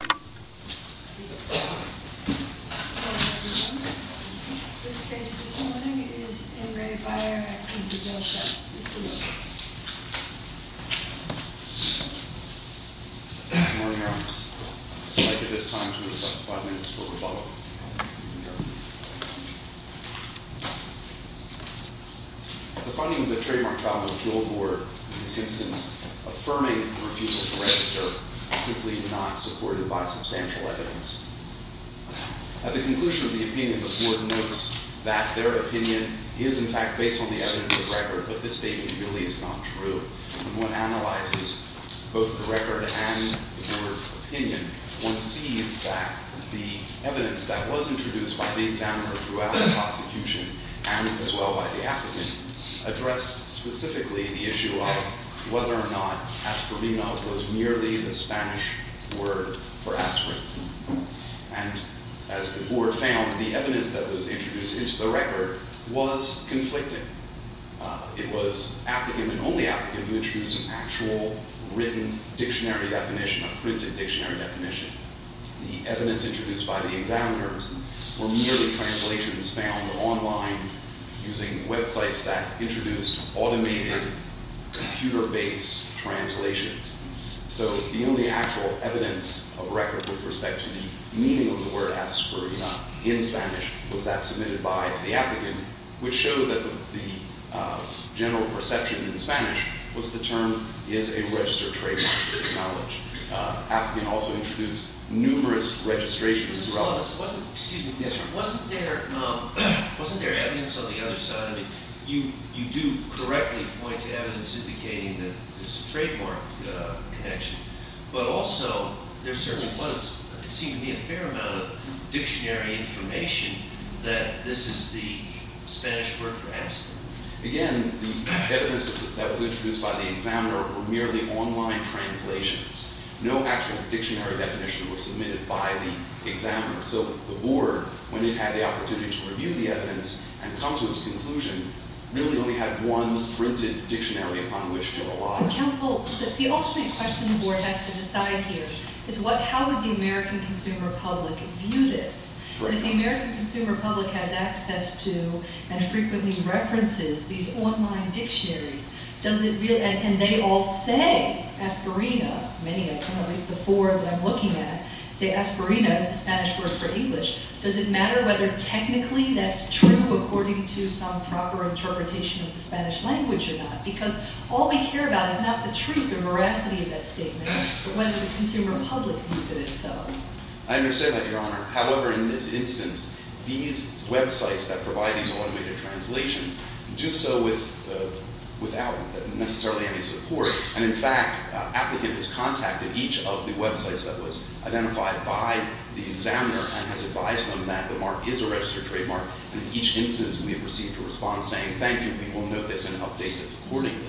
Good morning, Your Honor. I would like at this time to request five minutes for rebuttal. At the conclusion of the opinion, the board notes that their opinion is in fact based on the evidence of the record, but this statement really is not true. When one analyzes both the record and the board's opinion, one sees that the evidence that was introduced by the examiner throughout the prosecution and as well by the applicant addressed specifically the issue of whether or not aspirin was merely the Spanish word for aspirin. And as the board found, the evidence that was introduced into the record was conflicting. It was applicant and only applicant who introduced an actual written dictionary definition, a printed dictionary definition. The evidence introduced by the examiners were merely translations found online using websites that introduced automated computer-based translations. So the only actual evidence of record with respect to the meaning of the word aspirin in Spanish was that submitted by the applicant, which showed that the general perception in Spanish was the term is a registered trademark of knowledge. Applicant also introduced numerous registrations as well. Wasn't there evidence on the other side? You do correctly point to evidence indicating that there's a trademark connection. But also, there certainly seemed to be a fair amount of dictionary information that this is the Spanish word for aspirin. Again, the evidence that was introduced by the examiner were merely online translations. No actual dictionary definition was submitted by the examiner. So the board, when it had the opportunity to review the evidence and come to its conclusion, really only had one printed dictionary upon which to rely. Counsel, the ultimate question the board has to decide here is how would the American consumer public view this? If the American consumer public has access to and frequently references these online dictionaries, and they all say aspirin, many of them, at least the four that I'm looking at, say aspirin as the Spanish word for English, does it matter whether technically that's true according to some proper interpretation of the Spanish language or not? Because all we care about is not the truth or veracity of that statement, but whether the consumer public views it as so. I understand that, Your Honor. However, in this instance, these websites that provide these automated translations do so without necessarily any support. And in fact, an applicant has contacted each of the websites that was identified by the examiner and has advised them that the mark is a registered trademark. And in each instance, we have received a response saying, thank you, we will note this and update this accordingly.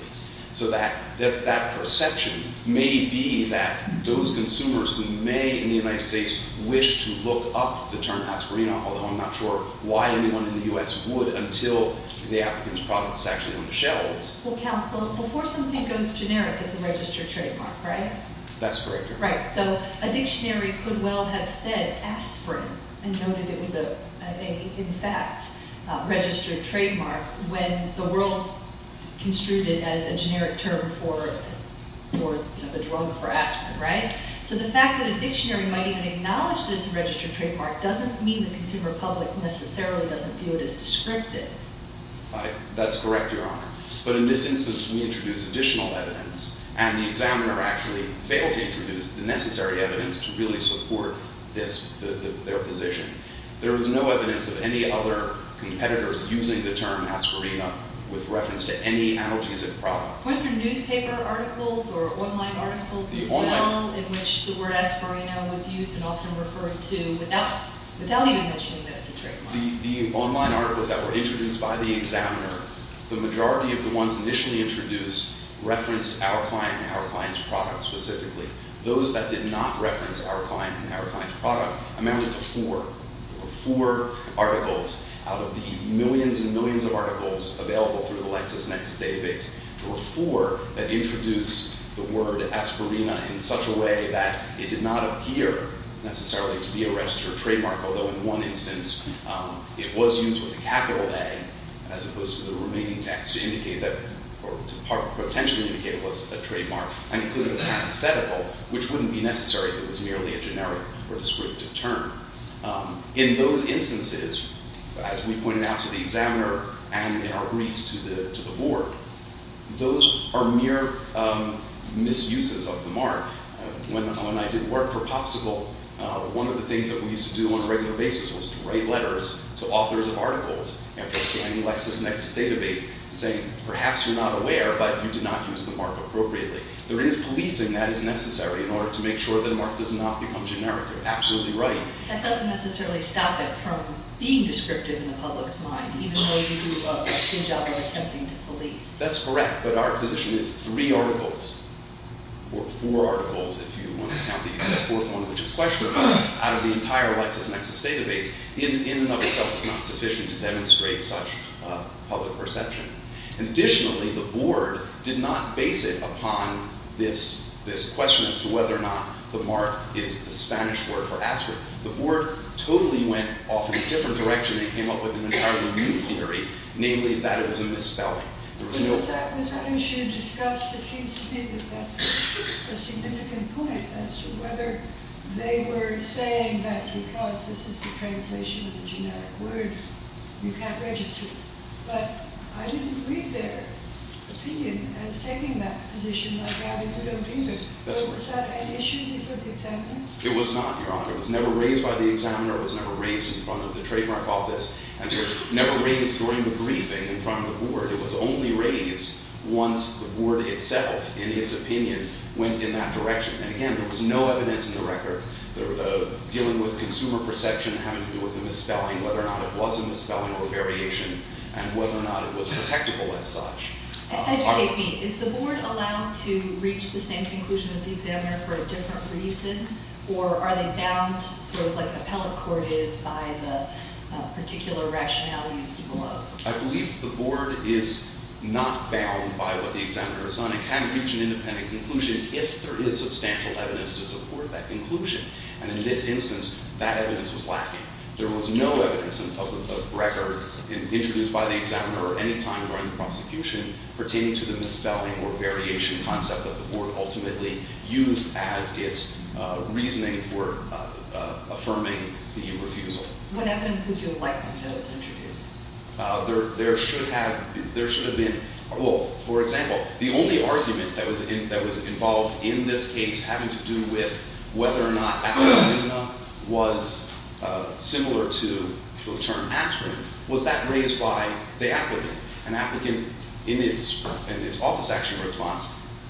So that perception may be that those consumers who may in the United States wish to look up the term aspirin, although I'm not sure why anyone in the U.S. would until the applicant's product is actually on the shelves. Well, counsel, before something goes generic, it's a registered trademark, right? Right. So a dictionary could well have said aspirin and noted it was a, in fact, registered trademark when the world construed it as a generic term for the drug for aspirin, right? So the fact that a dictionary might even acknowledge that it's a registered trademark doesn't mean the consumer public necessarily doesn't view it as descriptive. Right. That's correct, Your Honor. But in this instance, we introduced additional evidence, and the examiner actually failed to introduce the necessary evidence to really support this, their position. There was no evidence of any other competitors using the term aspirin with reference to any analgesic product. Went through newspaper articles or online articles as well in which the word aspirin was used and often referred to without even mentioning that it's a trademark. The online articles that were introduced by the examiner, the majority of the ones initially introduced referenced our client and our client's product specifically. Those that did not reference our client and our client's product amounted to four. There were four articles out of the millions and millions of articles available through the LexisNexis database. There were four that introduced the word aspirin in such a way that it did not appear necessarily to be a registered trademark. Although in one instance, it was used with a capital A as opposed to the remaining text to indicate that or to potentially indicate it was a trademark. And included a hypothetical, which wouldn't be necessary if it was merely a generic or descriptive term. In those instances, as we pointed out to the examiner and in our briefs to the board, those are mere misuses of the mark. When I did work for Popsicle, one of the things that we used to do on a regular basis was to write letters to authors of articles and to any LexisNexis database saying, perhaps you're not aware, but you did not use the mark appropriately. There is policing that is necessary in order to make sure that a mark does not become generic. You're absolutely right. That doesn't necessarily stop it from being descriptive in the public's mind, even though you do a good job of attempting to police. That's correct, but our position is three articles, or four articles if you want to count the fourth one, which is questionable, out of the entire LexisNexis database in and of itself is not sufficient to demonstrate such public perception. Additionally, the board did not base it upon this question as to whether or not the mark is a Spanish word for aspirin. The board totally went off in a different direction and came up with an entirely new theory, namely that it was a misspelling. Was that issue discussed? It seems to me that that's a significant point as to whether they were saying that because this is the translation of a genetic word, you can't register it. But I didn't read their opinion as taking that position like that if you don't read it. Was that an issue before the examiner? It was not, Your Honor. It was never raised by the examiner. It was never raised in front of the trademark office. And it was never raised during the briefing in front of the board. It was only raised once the board itself, in his opinion, went in that direction. And again, there was no evidence in the record dealing with consumer perception having to do with the misspelling, whether or not it was a misspelling or a variation, and whether or not it was protectable as such. Educate me. Is the board allowed to reach the same conclusion as the examiner for a different reason? Or are they bound sort of like an appellate court is by the particular rationality as to the laws? I believe the board is not bound by what the examiner has done. It can reach an independent conclusion if there is substantial evidence to support that conclusion. And in this instance, that evidence was lacking. There was no evidence in public record introduced by the examiner at any time during the prosecution pertaining to the misspelling or variation concept that the board ultimately used as its reasoning for affirming the refusal. What evidence would you have liked them to have introduced? There should have been – well, for example, the only argument that was involved in this case having to do with whether or not aspirin was similar to the term aspirin was that raised by the applicant. An applicant in his office action response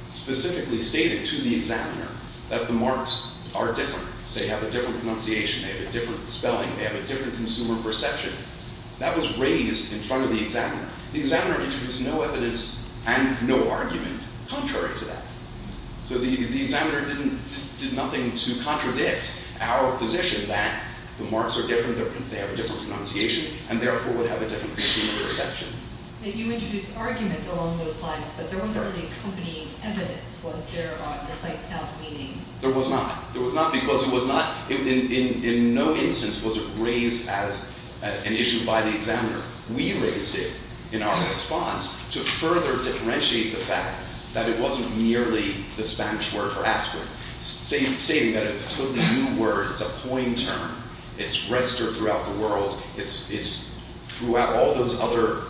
specifically stated to the examiner that the marks are different. They have a different pronunciation. They have a different spelling. They have a different consumer perception. That was raised in front of the examiner. The examiner introduced no evidence and no argument contrary to that. So the examiner did nothing to contradict our position that the marks are different, they have a different pronunciation, and therefore would have a different consumer perception. You introduced argument along those lines, but there wasn't any accompanying evidence. Was there on the site's own meaning? There was not. There was not because it was not – in no instance was it raised as an issue by the examiner. We raised it in our response to further differentiate the fact that it wasn't merely the Spanish word for aspirin, stating that it's a totally new word, it's a coined term, it's registered throughout the world, it's throughout all those other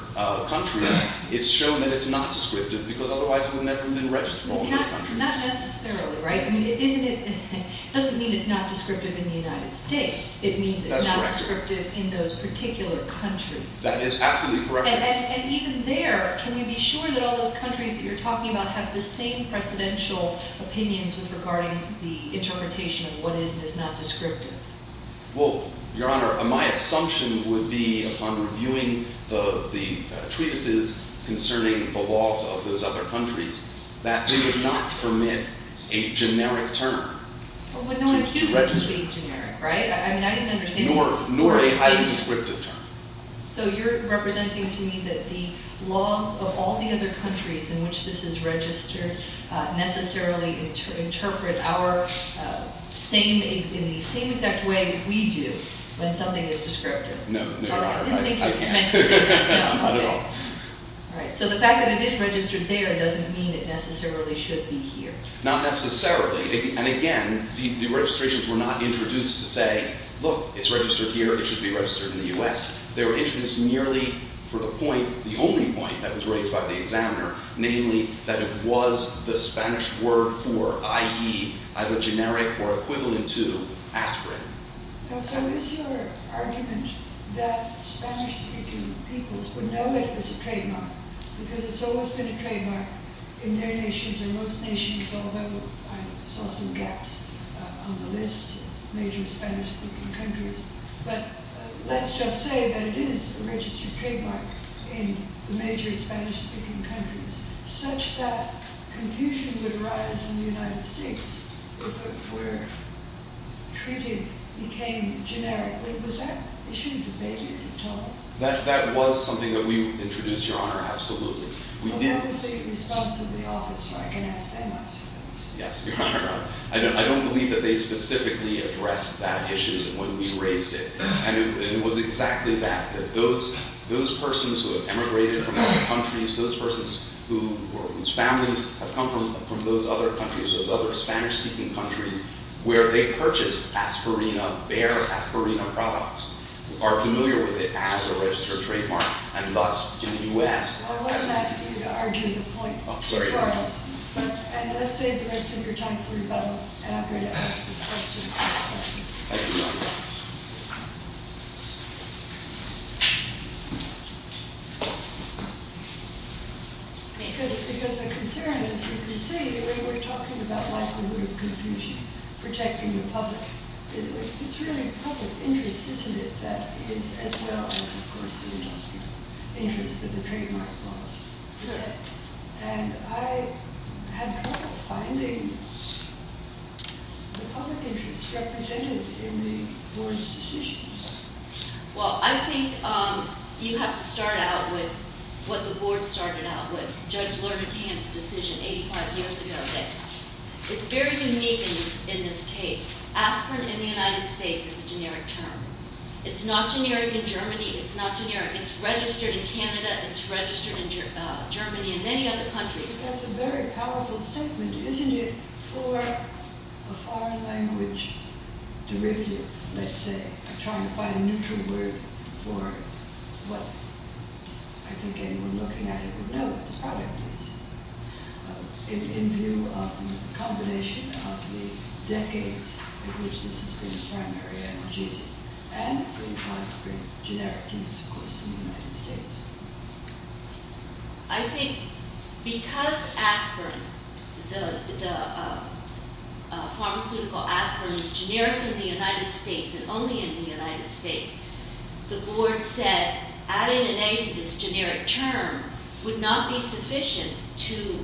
countries. It's shown that it's not descriptive because otherwise it would never have been registered in all those countries. Not necessarily, right? It doesn't mean it's not descriptive in the United States. It means it's not descriptive in those particular countries. That is absolutely correct. And even there, can you be sure that all those countries that you're talking about have the same presidential opinions regarding the interpretation of what is and is not descriptive? Well, Your Honor, my assumption would be upon reviewing the treatises concerning the laws of those other countries that they would not permit a generic term. Well, no one accuses you of being generic, right? I mean, I didn't understand – Nor a highly descriptive term. So you're representing to me that the laws of all the other countries in which this is registered necessarily interpret our – in the same exact way we do when something is descriptive. No, Your Honor, I – I didn't think you meant to say that. Not at all. All right. So the fact that it is registered there doesn't mean it necessarily should be here. Not necessarily. And again, the registrations were not introduced to say, look, it's registered here, it should be registered in the U.S. They were introduced merely for the point, the only point that was raised by the examiner, namely that it was the Spanish word for, i.e., either generic or equivalent to, aspirin. Now, so is your argument that Spanish-speaking peoples would know it as a trademark because it's always been a trademark in their nations and most nations, although I saw some gaps on the list, major Spanish-speaking countries. But let's just say that it is a registered trademark in the major Spanish-speaking countries, such that confusion would arise in the United States where treated became generic. Was that – they shouldn't debate it at all. That was something that we introduced, Your Honor, absolutely. But that was the response of the office, right? Yes, Your Honor. I don't believe that they specifically addressed that issue when we raised it. And it was exactly that, that those persons who have emigrated from other countries, those persons whose families have come from those other countries, those other Spanish-speaking countries, where they purchased aspirina, bare aspirina products, are familiar with it as a registered trademark. And thus, in the U.S. – I wasn't asking you to argue the point for us. And let's save the rest of your time for your bubble, and I'm going to ask this question. Thank you, Your Honor. Because the concern, as you can see, when we're talking about likelihood of confusion, protecting the public, it's really public interest, isn't it, that is as well as, of course, the industrial interest of the trademark policy. And I had trouble finding the public interest represented in the board's decisions. Well, I think you have to start out with what the board started out with, Judge Lerner-Kant's decision 85 years ago. It's very unique in this case. Aspirin in the United States is a generic term. It's not generic in Germany. It's not generic – it's registered in Canada. It's registered in Germany and many other countries. That's a very powerful statement, isn't it, for a foreign language derivative, let's say. I'm trying to find a neutral word for what I think anyone looking at it would know what the product is. In view of the combination of the decades in which this has been a primary analgesic, and the products being generic to use, of course, in the United States. I think because aspirin, the pharmaceutical aspirin, is generic in the United States and only in the United States, the board said adding an A to this generic term would not be sufficient to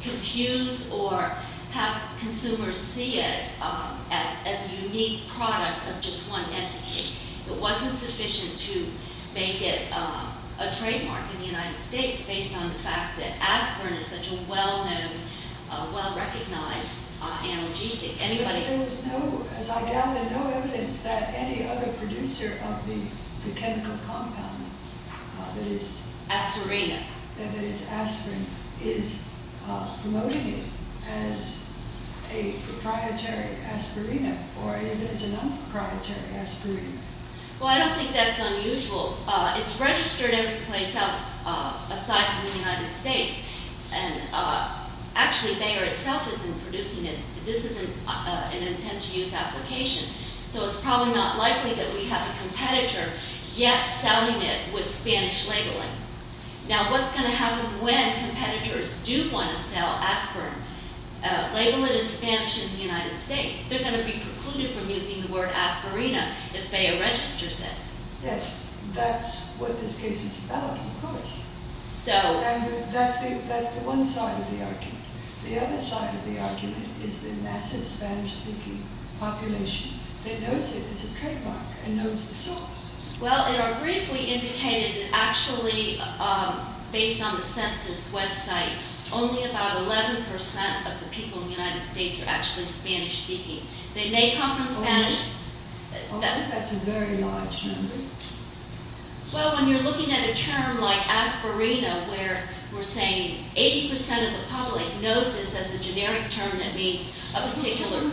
confuse or have consumers see it as a unique product of just one entity. It wasn't sufficient to make it a trademark in the United States, based on the fact that aspirin is such a well-known, well-recognized analgesic. But there was, as I gather, no evidence that any other producer of the chemical compound that is aspirin is promoting it as a proprietary aspirin or even as a non-proprietary aspirin. Well, I don't think that's unusual. It's registered every place else, aside from the United States. Actually, Bayer itself isn't producing it. This isn't an intent to use application. So it's probably not likely that we have a competitor yet selling it with Spanish labeling. Now, what's going to happen when competitors do want to sell aspirin, label it in Spanish in the United States? They're going to be precluded from using the word aspirina if Bayer registers it. Yes, that's what this case is about, of course. And that's the one side of the argument. The other side of the argument is the massive Spanish-speaking population that knows it as a trademark and knows the source. Well, it are briefly indicated that actually, based on the census website, only about 11% of the people in the United States are actually Spanish-speaking. They may come from Spanish... That's a very large number. Well, when you're looking at a term like aspirina, where we're saying 80% of the public knows this as a generic term that means a particular...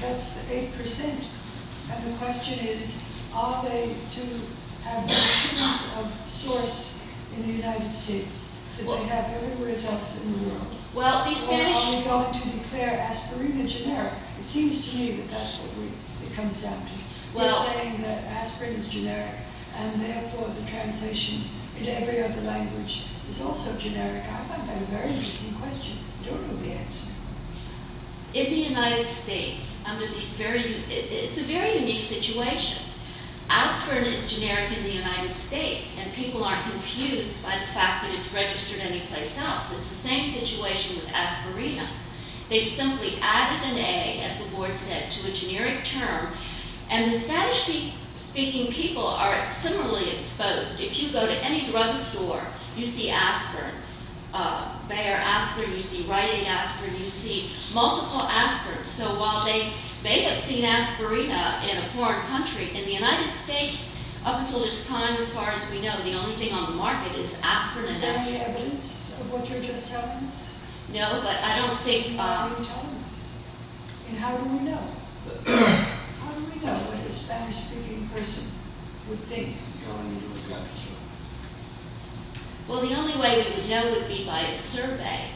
That's 8%, and the question is, are they to have notions of source in the United States? Do they have everywhere else in the world? Are they going to declare aspirin a generic? It seems to me that that's what it comes down to. You're saying that aspirin is generic, and therefore the translation in every other language is also generic. I find that a very interesting question. I don't know the answer. In the United States, it's a very unique situation. Aspirin is generic in the United States, and people aren't confused by the fact that it's registered anyplace else. It's the same situation with aspirina. They've simply added an A, as the board said, to a generic term, and the Spanish-speaking people are similarly exposed. If you go to any drugstore, you see aspirin. They are aspirin. You see writing aspirin. You see multiple aspirins. So while they may have seen aspirina in a foreign country, in the United States, up until this time, as far as we know, the only thing on the market is aspirin and aspirin. Is there any evidence of what you're just telling us? No, but I don't think... What are you telling us, and how do we know? How do we know what a Spanish-speaking person would think going into a drugstore? Well, the only way we would know would be by a survey.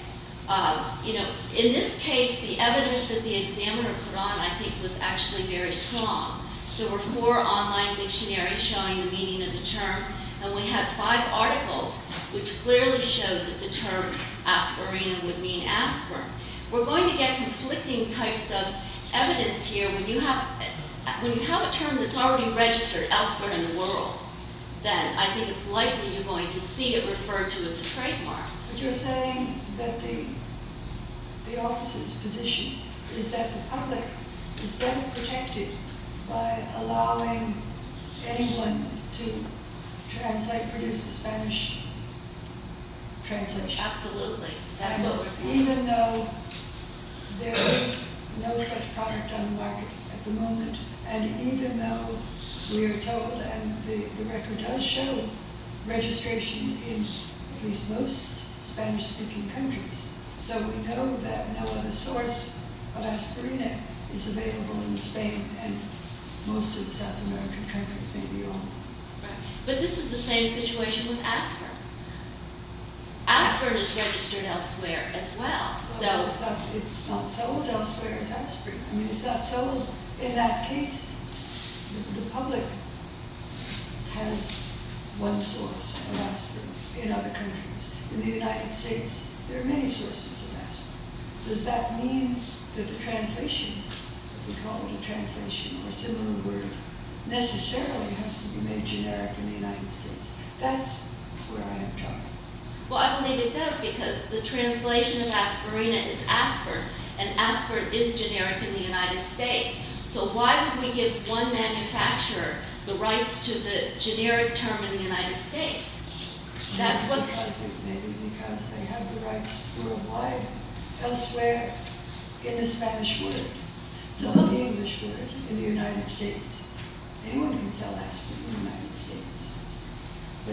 You know, in this case, the evidence that the examiner put on, I think, was actually very strong. There were four online dictionaries showing the meaning of the term, and we had five articles, which clearly showed that the term aspirina would mean aspirin. We're going to get conflicting types of evidence here. When you have a term that's already registered elsewhere in the world, then I think it's likely you're going to see it referred to as a trademark. But you're saying that the office's position is that the public is better protected by allowing anyone to translate, produce the Spanish translation. Absolutely. That's what we're saying. Even though there is no such product on the market at the moment, and even though we are told, and the record does show, registration in at least most Spanish-speaking countries. So we know that no other source of aspirina is available in Spain and most of the South American countries, maybe all. But this is the same situation with aspirin. Aspirin is registered elsewhere as well. It's not sold elsewhere as aspirin. It's not sold in that case. The public has one source of aspirin in other countries. In the United States, there are many sources of aspirin. Does that mean that the translation, if you call it a translation or similar word, necessarily has to be made generic in the United States? That's where I have trouble. Well, I believe it does, because the translation of aspirina is aspirin, and aspirin is generic in the United States. So why would we give one manufacturer the rights to the generic term in the United States? I think maybe because they have the rights worldwide, elsewhere, in the Spanish word, not the English word in the United States. Anyone can sell aspirin in the United States. So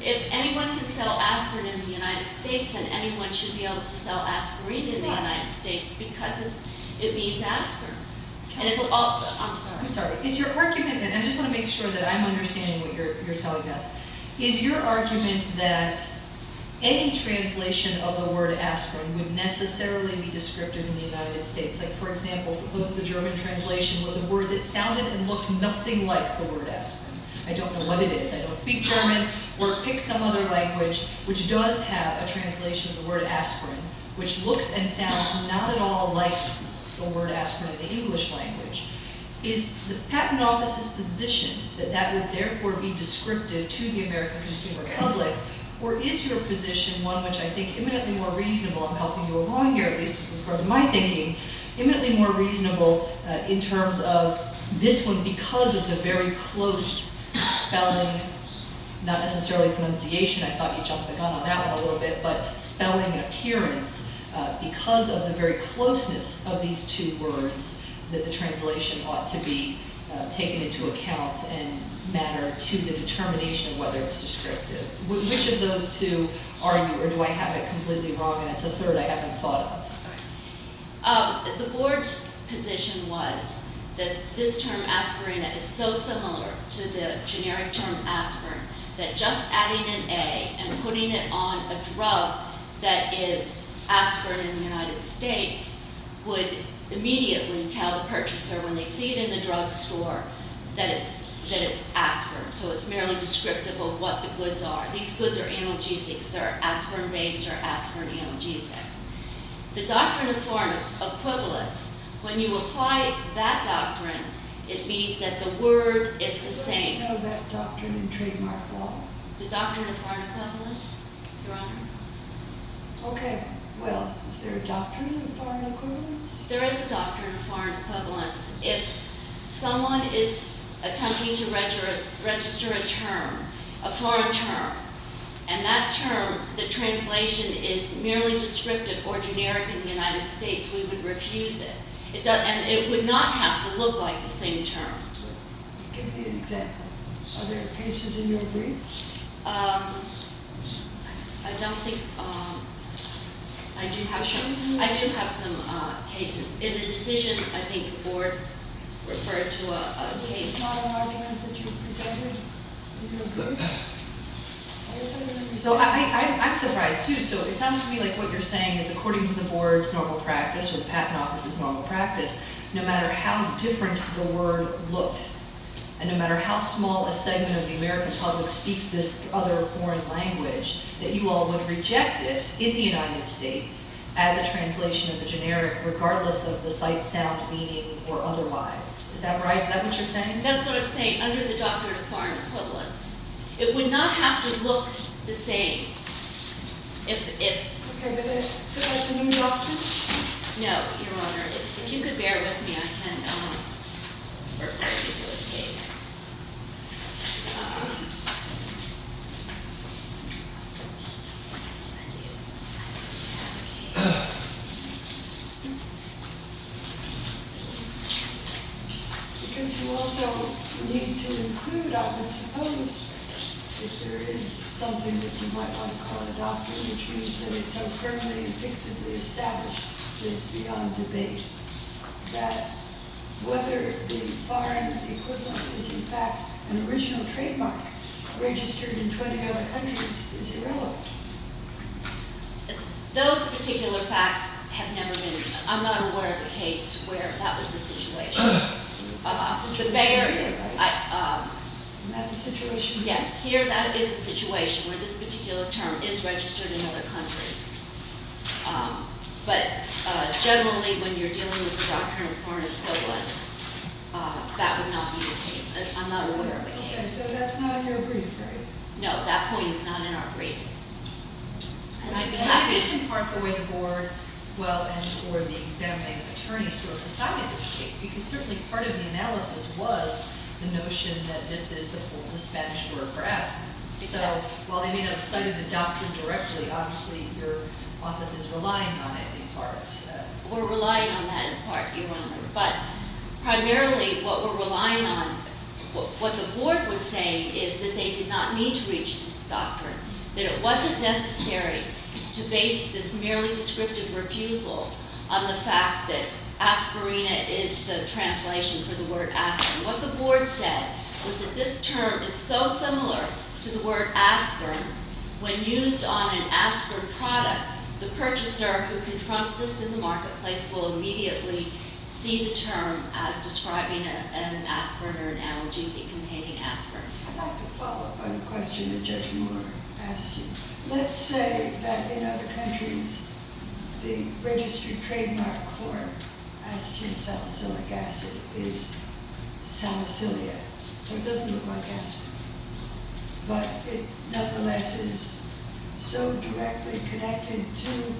if anyone can sell aspirin in the United States, then anyone should be able to sell aspirin in the United States, because it means aspirin. I'm sorry. I just want to make sure that I'm understanding what you're telling us. Is your argument that any translation of the word aspirin would necessarily be descriptive in the United States? Like, for example, suppose the German translation was a word that sounded and looked nothing like the word aspirin. I don't know what it is. I don't speak German. Or pick some other language which does have a translation of the word aspirin, which looks and sounds not at all like the word aspirin in the English language. Is the Patent Office's position that that would therefore be descriptive to the American consumer public, or is your position one which I think is eminently more reasonable – I'm helping you along here, at least from my thinking – eminently more reasonable in terms of this one, because of the very close spelling, not necessarily pronunciation – I thought you jumped the gun on that one a little bit – but spelling and appearance, because of the very closeness of these two words, that the translation ought to be taken into account and matter to the determination of whether it's descriptive. Which of those two are you, or do I have it completely wrong, and it's a third I haven't thought of? The Board's position was that this term, aspirin, is so similar to the generic term, aspirin, that just adding an A and putting it on a drug that is aspirin in the United States would immediately tell the purchaser, when they see it in the drugstore, that it's aspirin. So it's merely descriptive of what the goods are. These goods are analgesics. They're aspirin-based or aspirin analgesics. The doctrine of foreign equivalence, when you apply that doctrine, it means that the word is the same. How do you know that doctrine in trademark law? The doctrine of foreign equivalence, Your Honor. Okay, well, is there a doctrine of foreign equivalence? There is a doctrine of foreign equivalence. If someone is attempting to register a term, a foreign term, and that term, the translation, is merely descriptive or generic in the United States, we would refuse it. It would not have to look like the same term. Give me an example. Are there cases in your briefs? I don't think. I do have some cases. In the decision, I think the Board referred to a case. Is this not an argument that you presented? I'm surprised, too. It sounds to me like what you're saying is according to the Board's normal practice or the Patent Office's normal practice, no matter how different the word looked and no matter how small a segment of the American public speaks this other foreign language, that you all would reject it in the United States as a translation of the generic, regardless of the sight, sound, meaning, or otherwise. Is that right? Is that what you're saying? That's what I'm saying, under the doctrine of foreign equivalence. It would not have to look the same. Okay, but it's a questioning doctrine? No, Your Honor. If you could bear with me, I can refer you to a case. Because you also need to include, I would suppose, if there is something that you might want to call a doctrine which means that it's so firmly and fixably established that it's beyond debate, that whether the foreign equivalent is in fact an original trademark registered in 20 other countries is irrelevant. Those particular facts have never been. I'm not aware of a case where that was the situation. That's the situation here, right? Yes, here that is the situation where this particular term is registered in other countries. But generally, when you're dealing with the doctrine of foreign equivalence, that would not be the case. I'm not aware of a case. Okay, so that's not in your brief, right? No, that point is not in our brief. Can I just impart the way the Board, well, and for the examining attorneys who have decided this case, because certainly part of the analysis was the notion that this is the Spanish word for asking. So while they may not have cited the doctrine directly, obviously your office is relying on it in part. We're relying on that in part, Your Honor. But primarily, what we're relying on, what the Board was saying is that they did not need to reach this doctrine, that it wasn't necessary to base this merely descriptive refusal on the fact that aspirina is the translation for the word aspirin. What the Board said was that this term is so similar to the word aspirin, when used on an aspirin product, the purchaser who confronts this in the marketplace will immediately see the term as describing an aspirin or an analgesic containing aspirin. I'd like to follow up on a question that Judge Moore asked you. Let's say that in other countries, the registered trademark for acetate salicylic acid is salicylic acid, so it doesn't look like aspirin. But it, nonetheless, is so directly connected to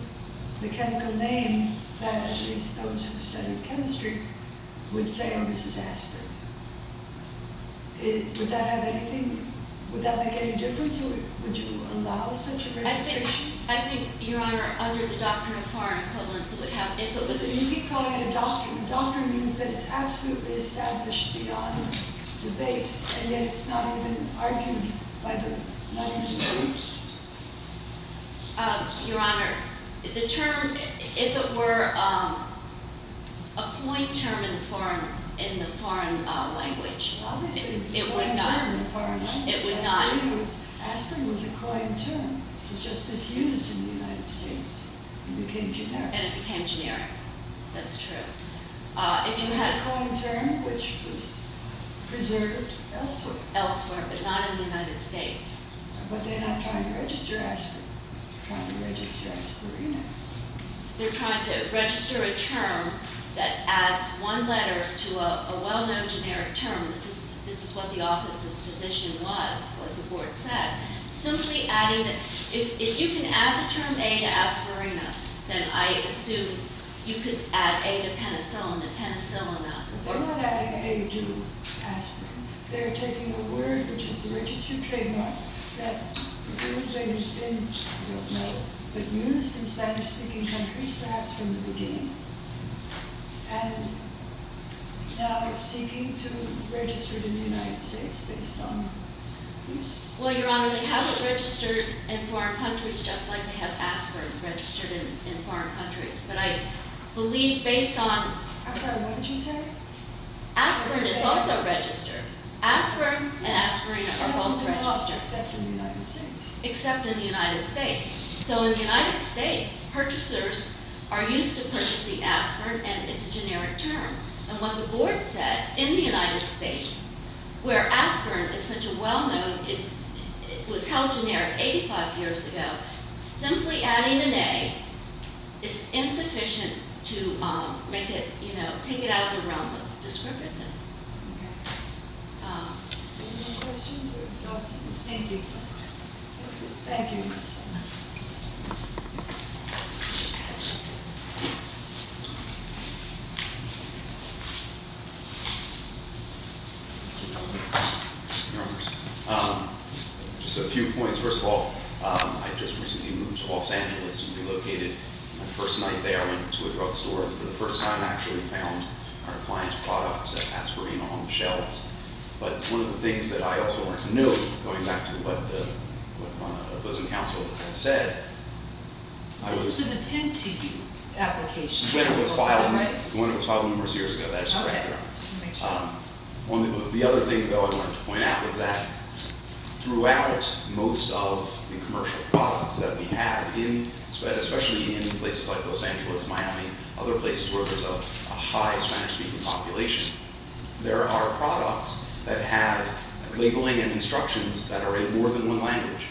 the chemical name that at least those who have studied chemistry would say, oh, this is aspirin. Would that have anything, would that make any difference? Would you allow such a registration? I think, Your Honor, under the doctrine of foreign equivalence, it would have influence. Listen, you keep calling it a doctrine. A doctrine means that it's absolutely established beyond debate, and yet it's not even argued by the, not even used. Your Honor, the term, if it were a point term in the foreign language, it would not. Obviously, it's a point term in the foreign language. It would not. Aspirin was a coined term. It was just misused in the United States. It became generic. And it became generic. That's true. It was a coined term which was preserved elsewhere. Elsewhere, but not in the United States. But they're not trying to register aspirin. They're trying to register aspirina. They're trying to register a term that adds one letter to a well-known generic term. This is what the office's position was, what the board said. Simply adding, if you can add the term A to aspirina, then I assume you could add A to penicillin and penicillin up. They're not adding A to aspirin. They're taking a word, which is the registered trademark, that presumably has been used in Spanish-speaking countries perhaps from the beginning. And now they're seeking to register it in the United States based on use. Well, Your Honor, they haven't registered in foreign countries just like they have aspirin registered in foreign countries. But I believe based on – I'm sorry, what did you say? Aspirin is also registered. Aspirin and aspirin are both registered. Except in the United States. Except in the United States. So in the United States, purchasers are used to purchasing aspirin and its generic term. And what the board said in the United States, where aspirin is such a well-known – it was held generic 85 years ago, simply adding an A is insufficient to make it, you know, take it out of the realm of descriptiveness. Okay. Any more questions or exhaustive questions? Thank you, sir. Thank you. Your Honor, just a few points. First of all, I just recently moved to Los Angeles and relocated my first night there into a drugstore and for the first time actually found our client's products, aspirin, on the shelves. But one of the things that I also wanted to note, going back to what the opposing counsel said, I was – This is an attend-to use application. One that was filed numerous years ago. That is correct, Your Honor. The other thing, though, I wanted to point out is that throughout most of the commercial products that we have, especially in places like Los Angeles, Miami, other places where there's a high Spanish-speaking population, there are products that have labeling and instructions that are in more than one language.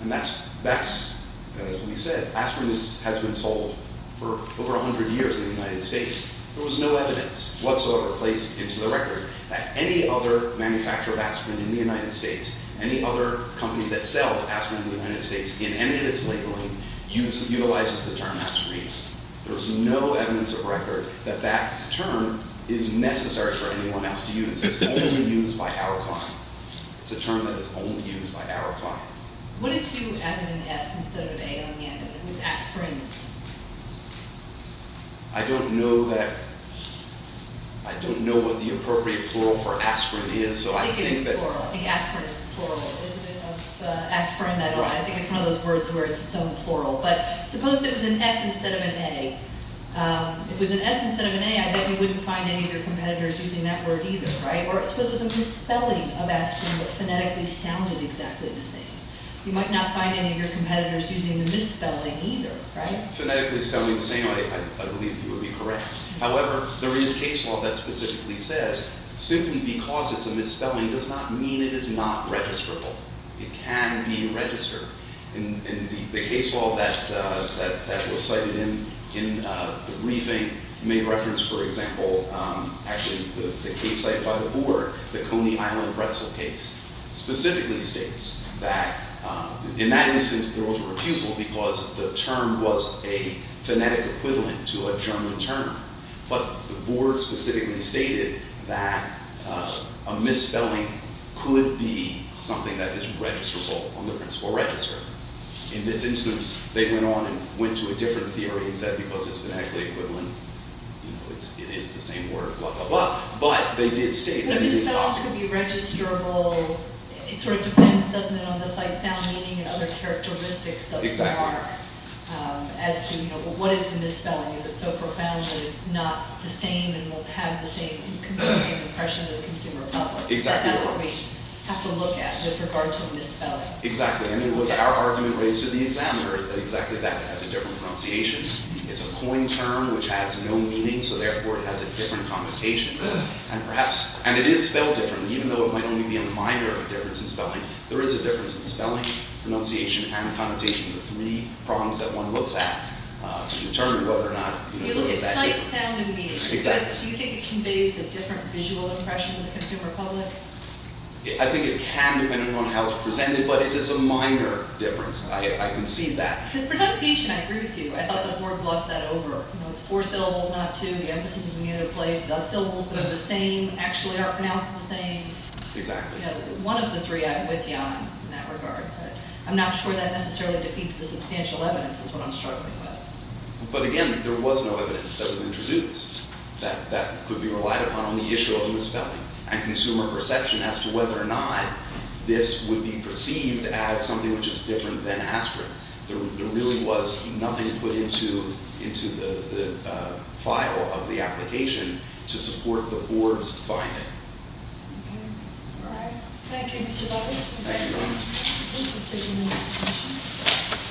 And that's, as we said, aspirin has been sold for over 100 years in the United States. There was no evidence whatsoever placed into the record that any other manufacturer of aspirin in the United States, any other company that sells aspirin in the United States, in any of its labeling, utilizes the term aspirin. There's no evidence of record that that term is necessary for anyone else to use. It's only used by our client. It's a term that is only used by our client. What if you added an S instead of an A on the end of it with aspirin? I don't know what the appropriate plural for aspirin is. I think it's plural. I think aspirin is plural. It's a bit of aspirin, I don't know. I think it's one of those words where it's its own plural. But suppose it was an S instead of an A. If it was an S instead of an A, I bet you wouldn't find any of your competitors using that word either, right? Or suppose it was a misspelling of aspirin, but phonetically sounded exactly the same. You might not find any of your competitors using the misspelling either, right? Phonetically sounding the same, I believe you would be correct. However, there is case law that specifically says simply because it's a misspelling does not mean it is not registrable. It can be registered. And the case law that was cited in the briefing made reference, for example, actually the case cited by the board, the Coney Island pretzel case, specifically states that in that instance there was a refusal because the term was a phonetic equivalent to a German term. But the board specifically stated that a misspelling could be something that is registrable on the principal register. In this instance, they went on and went to a different theory and said because it's phonetically equivalent, it is the same word, blah, blah, blah. But they did state that it is possible. But misspellings could be registrable. It sort of depends, doesn't it, on the sight, sound, meaning, and other characteristics of the mark as to what is the misspelling. Is it so profound that it's not the same and will have the same impression to the consumer public? That's what we have to look at with regard to the misspelling. Exactly. And it was our argument raised to the examiner that exactly that has a different pronunciation. It's a coin term which has no meaning, so therefore it has a different connotation. And it is spelled differently. Even though it might only be a minor difference in spelling, there is a difference in spelling, pronunciation, and connotation, the three prongs that one looks at to determine whether or not... You look at sight, sound, and meaning. Exactly. Do you think it conveys a different visual impression to the consumer public? I think it can depending on how it's presented, but it is a minor difference. I concede that. Because pronunciation, I agree with you. I thought this word glossed that over. It's four syllables, not two. The emphasis is in either place. The syllables that are the same actually are pronounced the same. Exactly. One of the three I'm with you on in that regard, but I'm not sure that necessarily defeats the substantial evidence is what I'm struggling with. But again, there was no evidence that was introduced that could be relied upon on the issue of misspelling and consumer perception as to whether or not this would be perceived as something which is different than aspirin. There really was nothing put into the file of the application to support the board's finding. Okay. All right. Thank you, Mr. Bobbins. Thank you. This has taken a lot of discussion.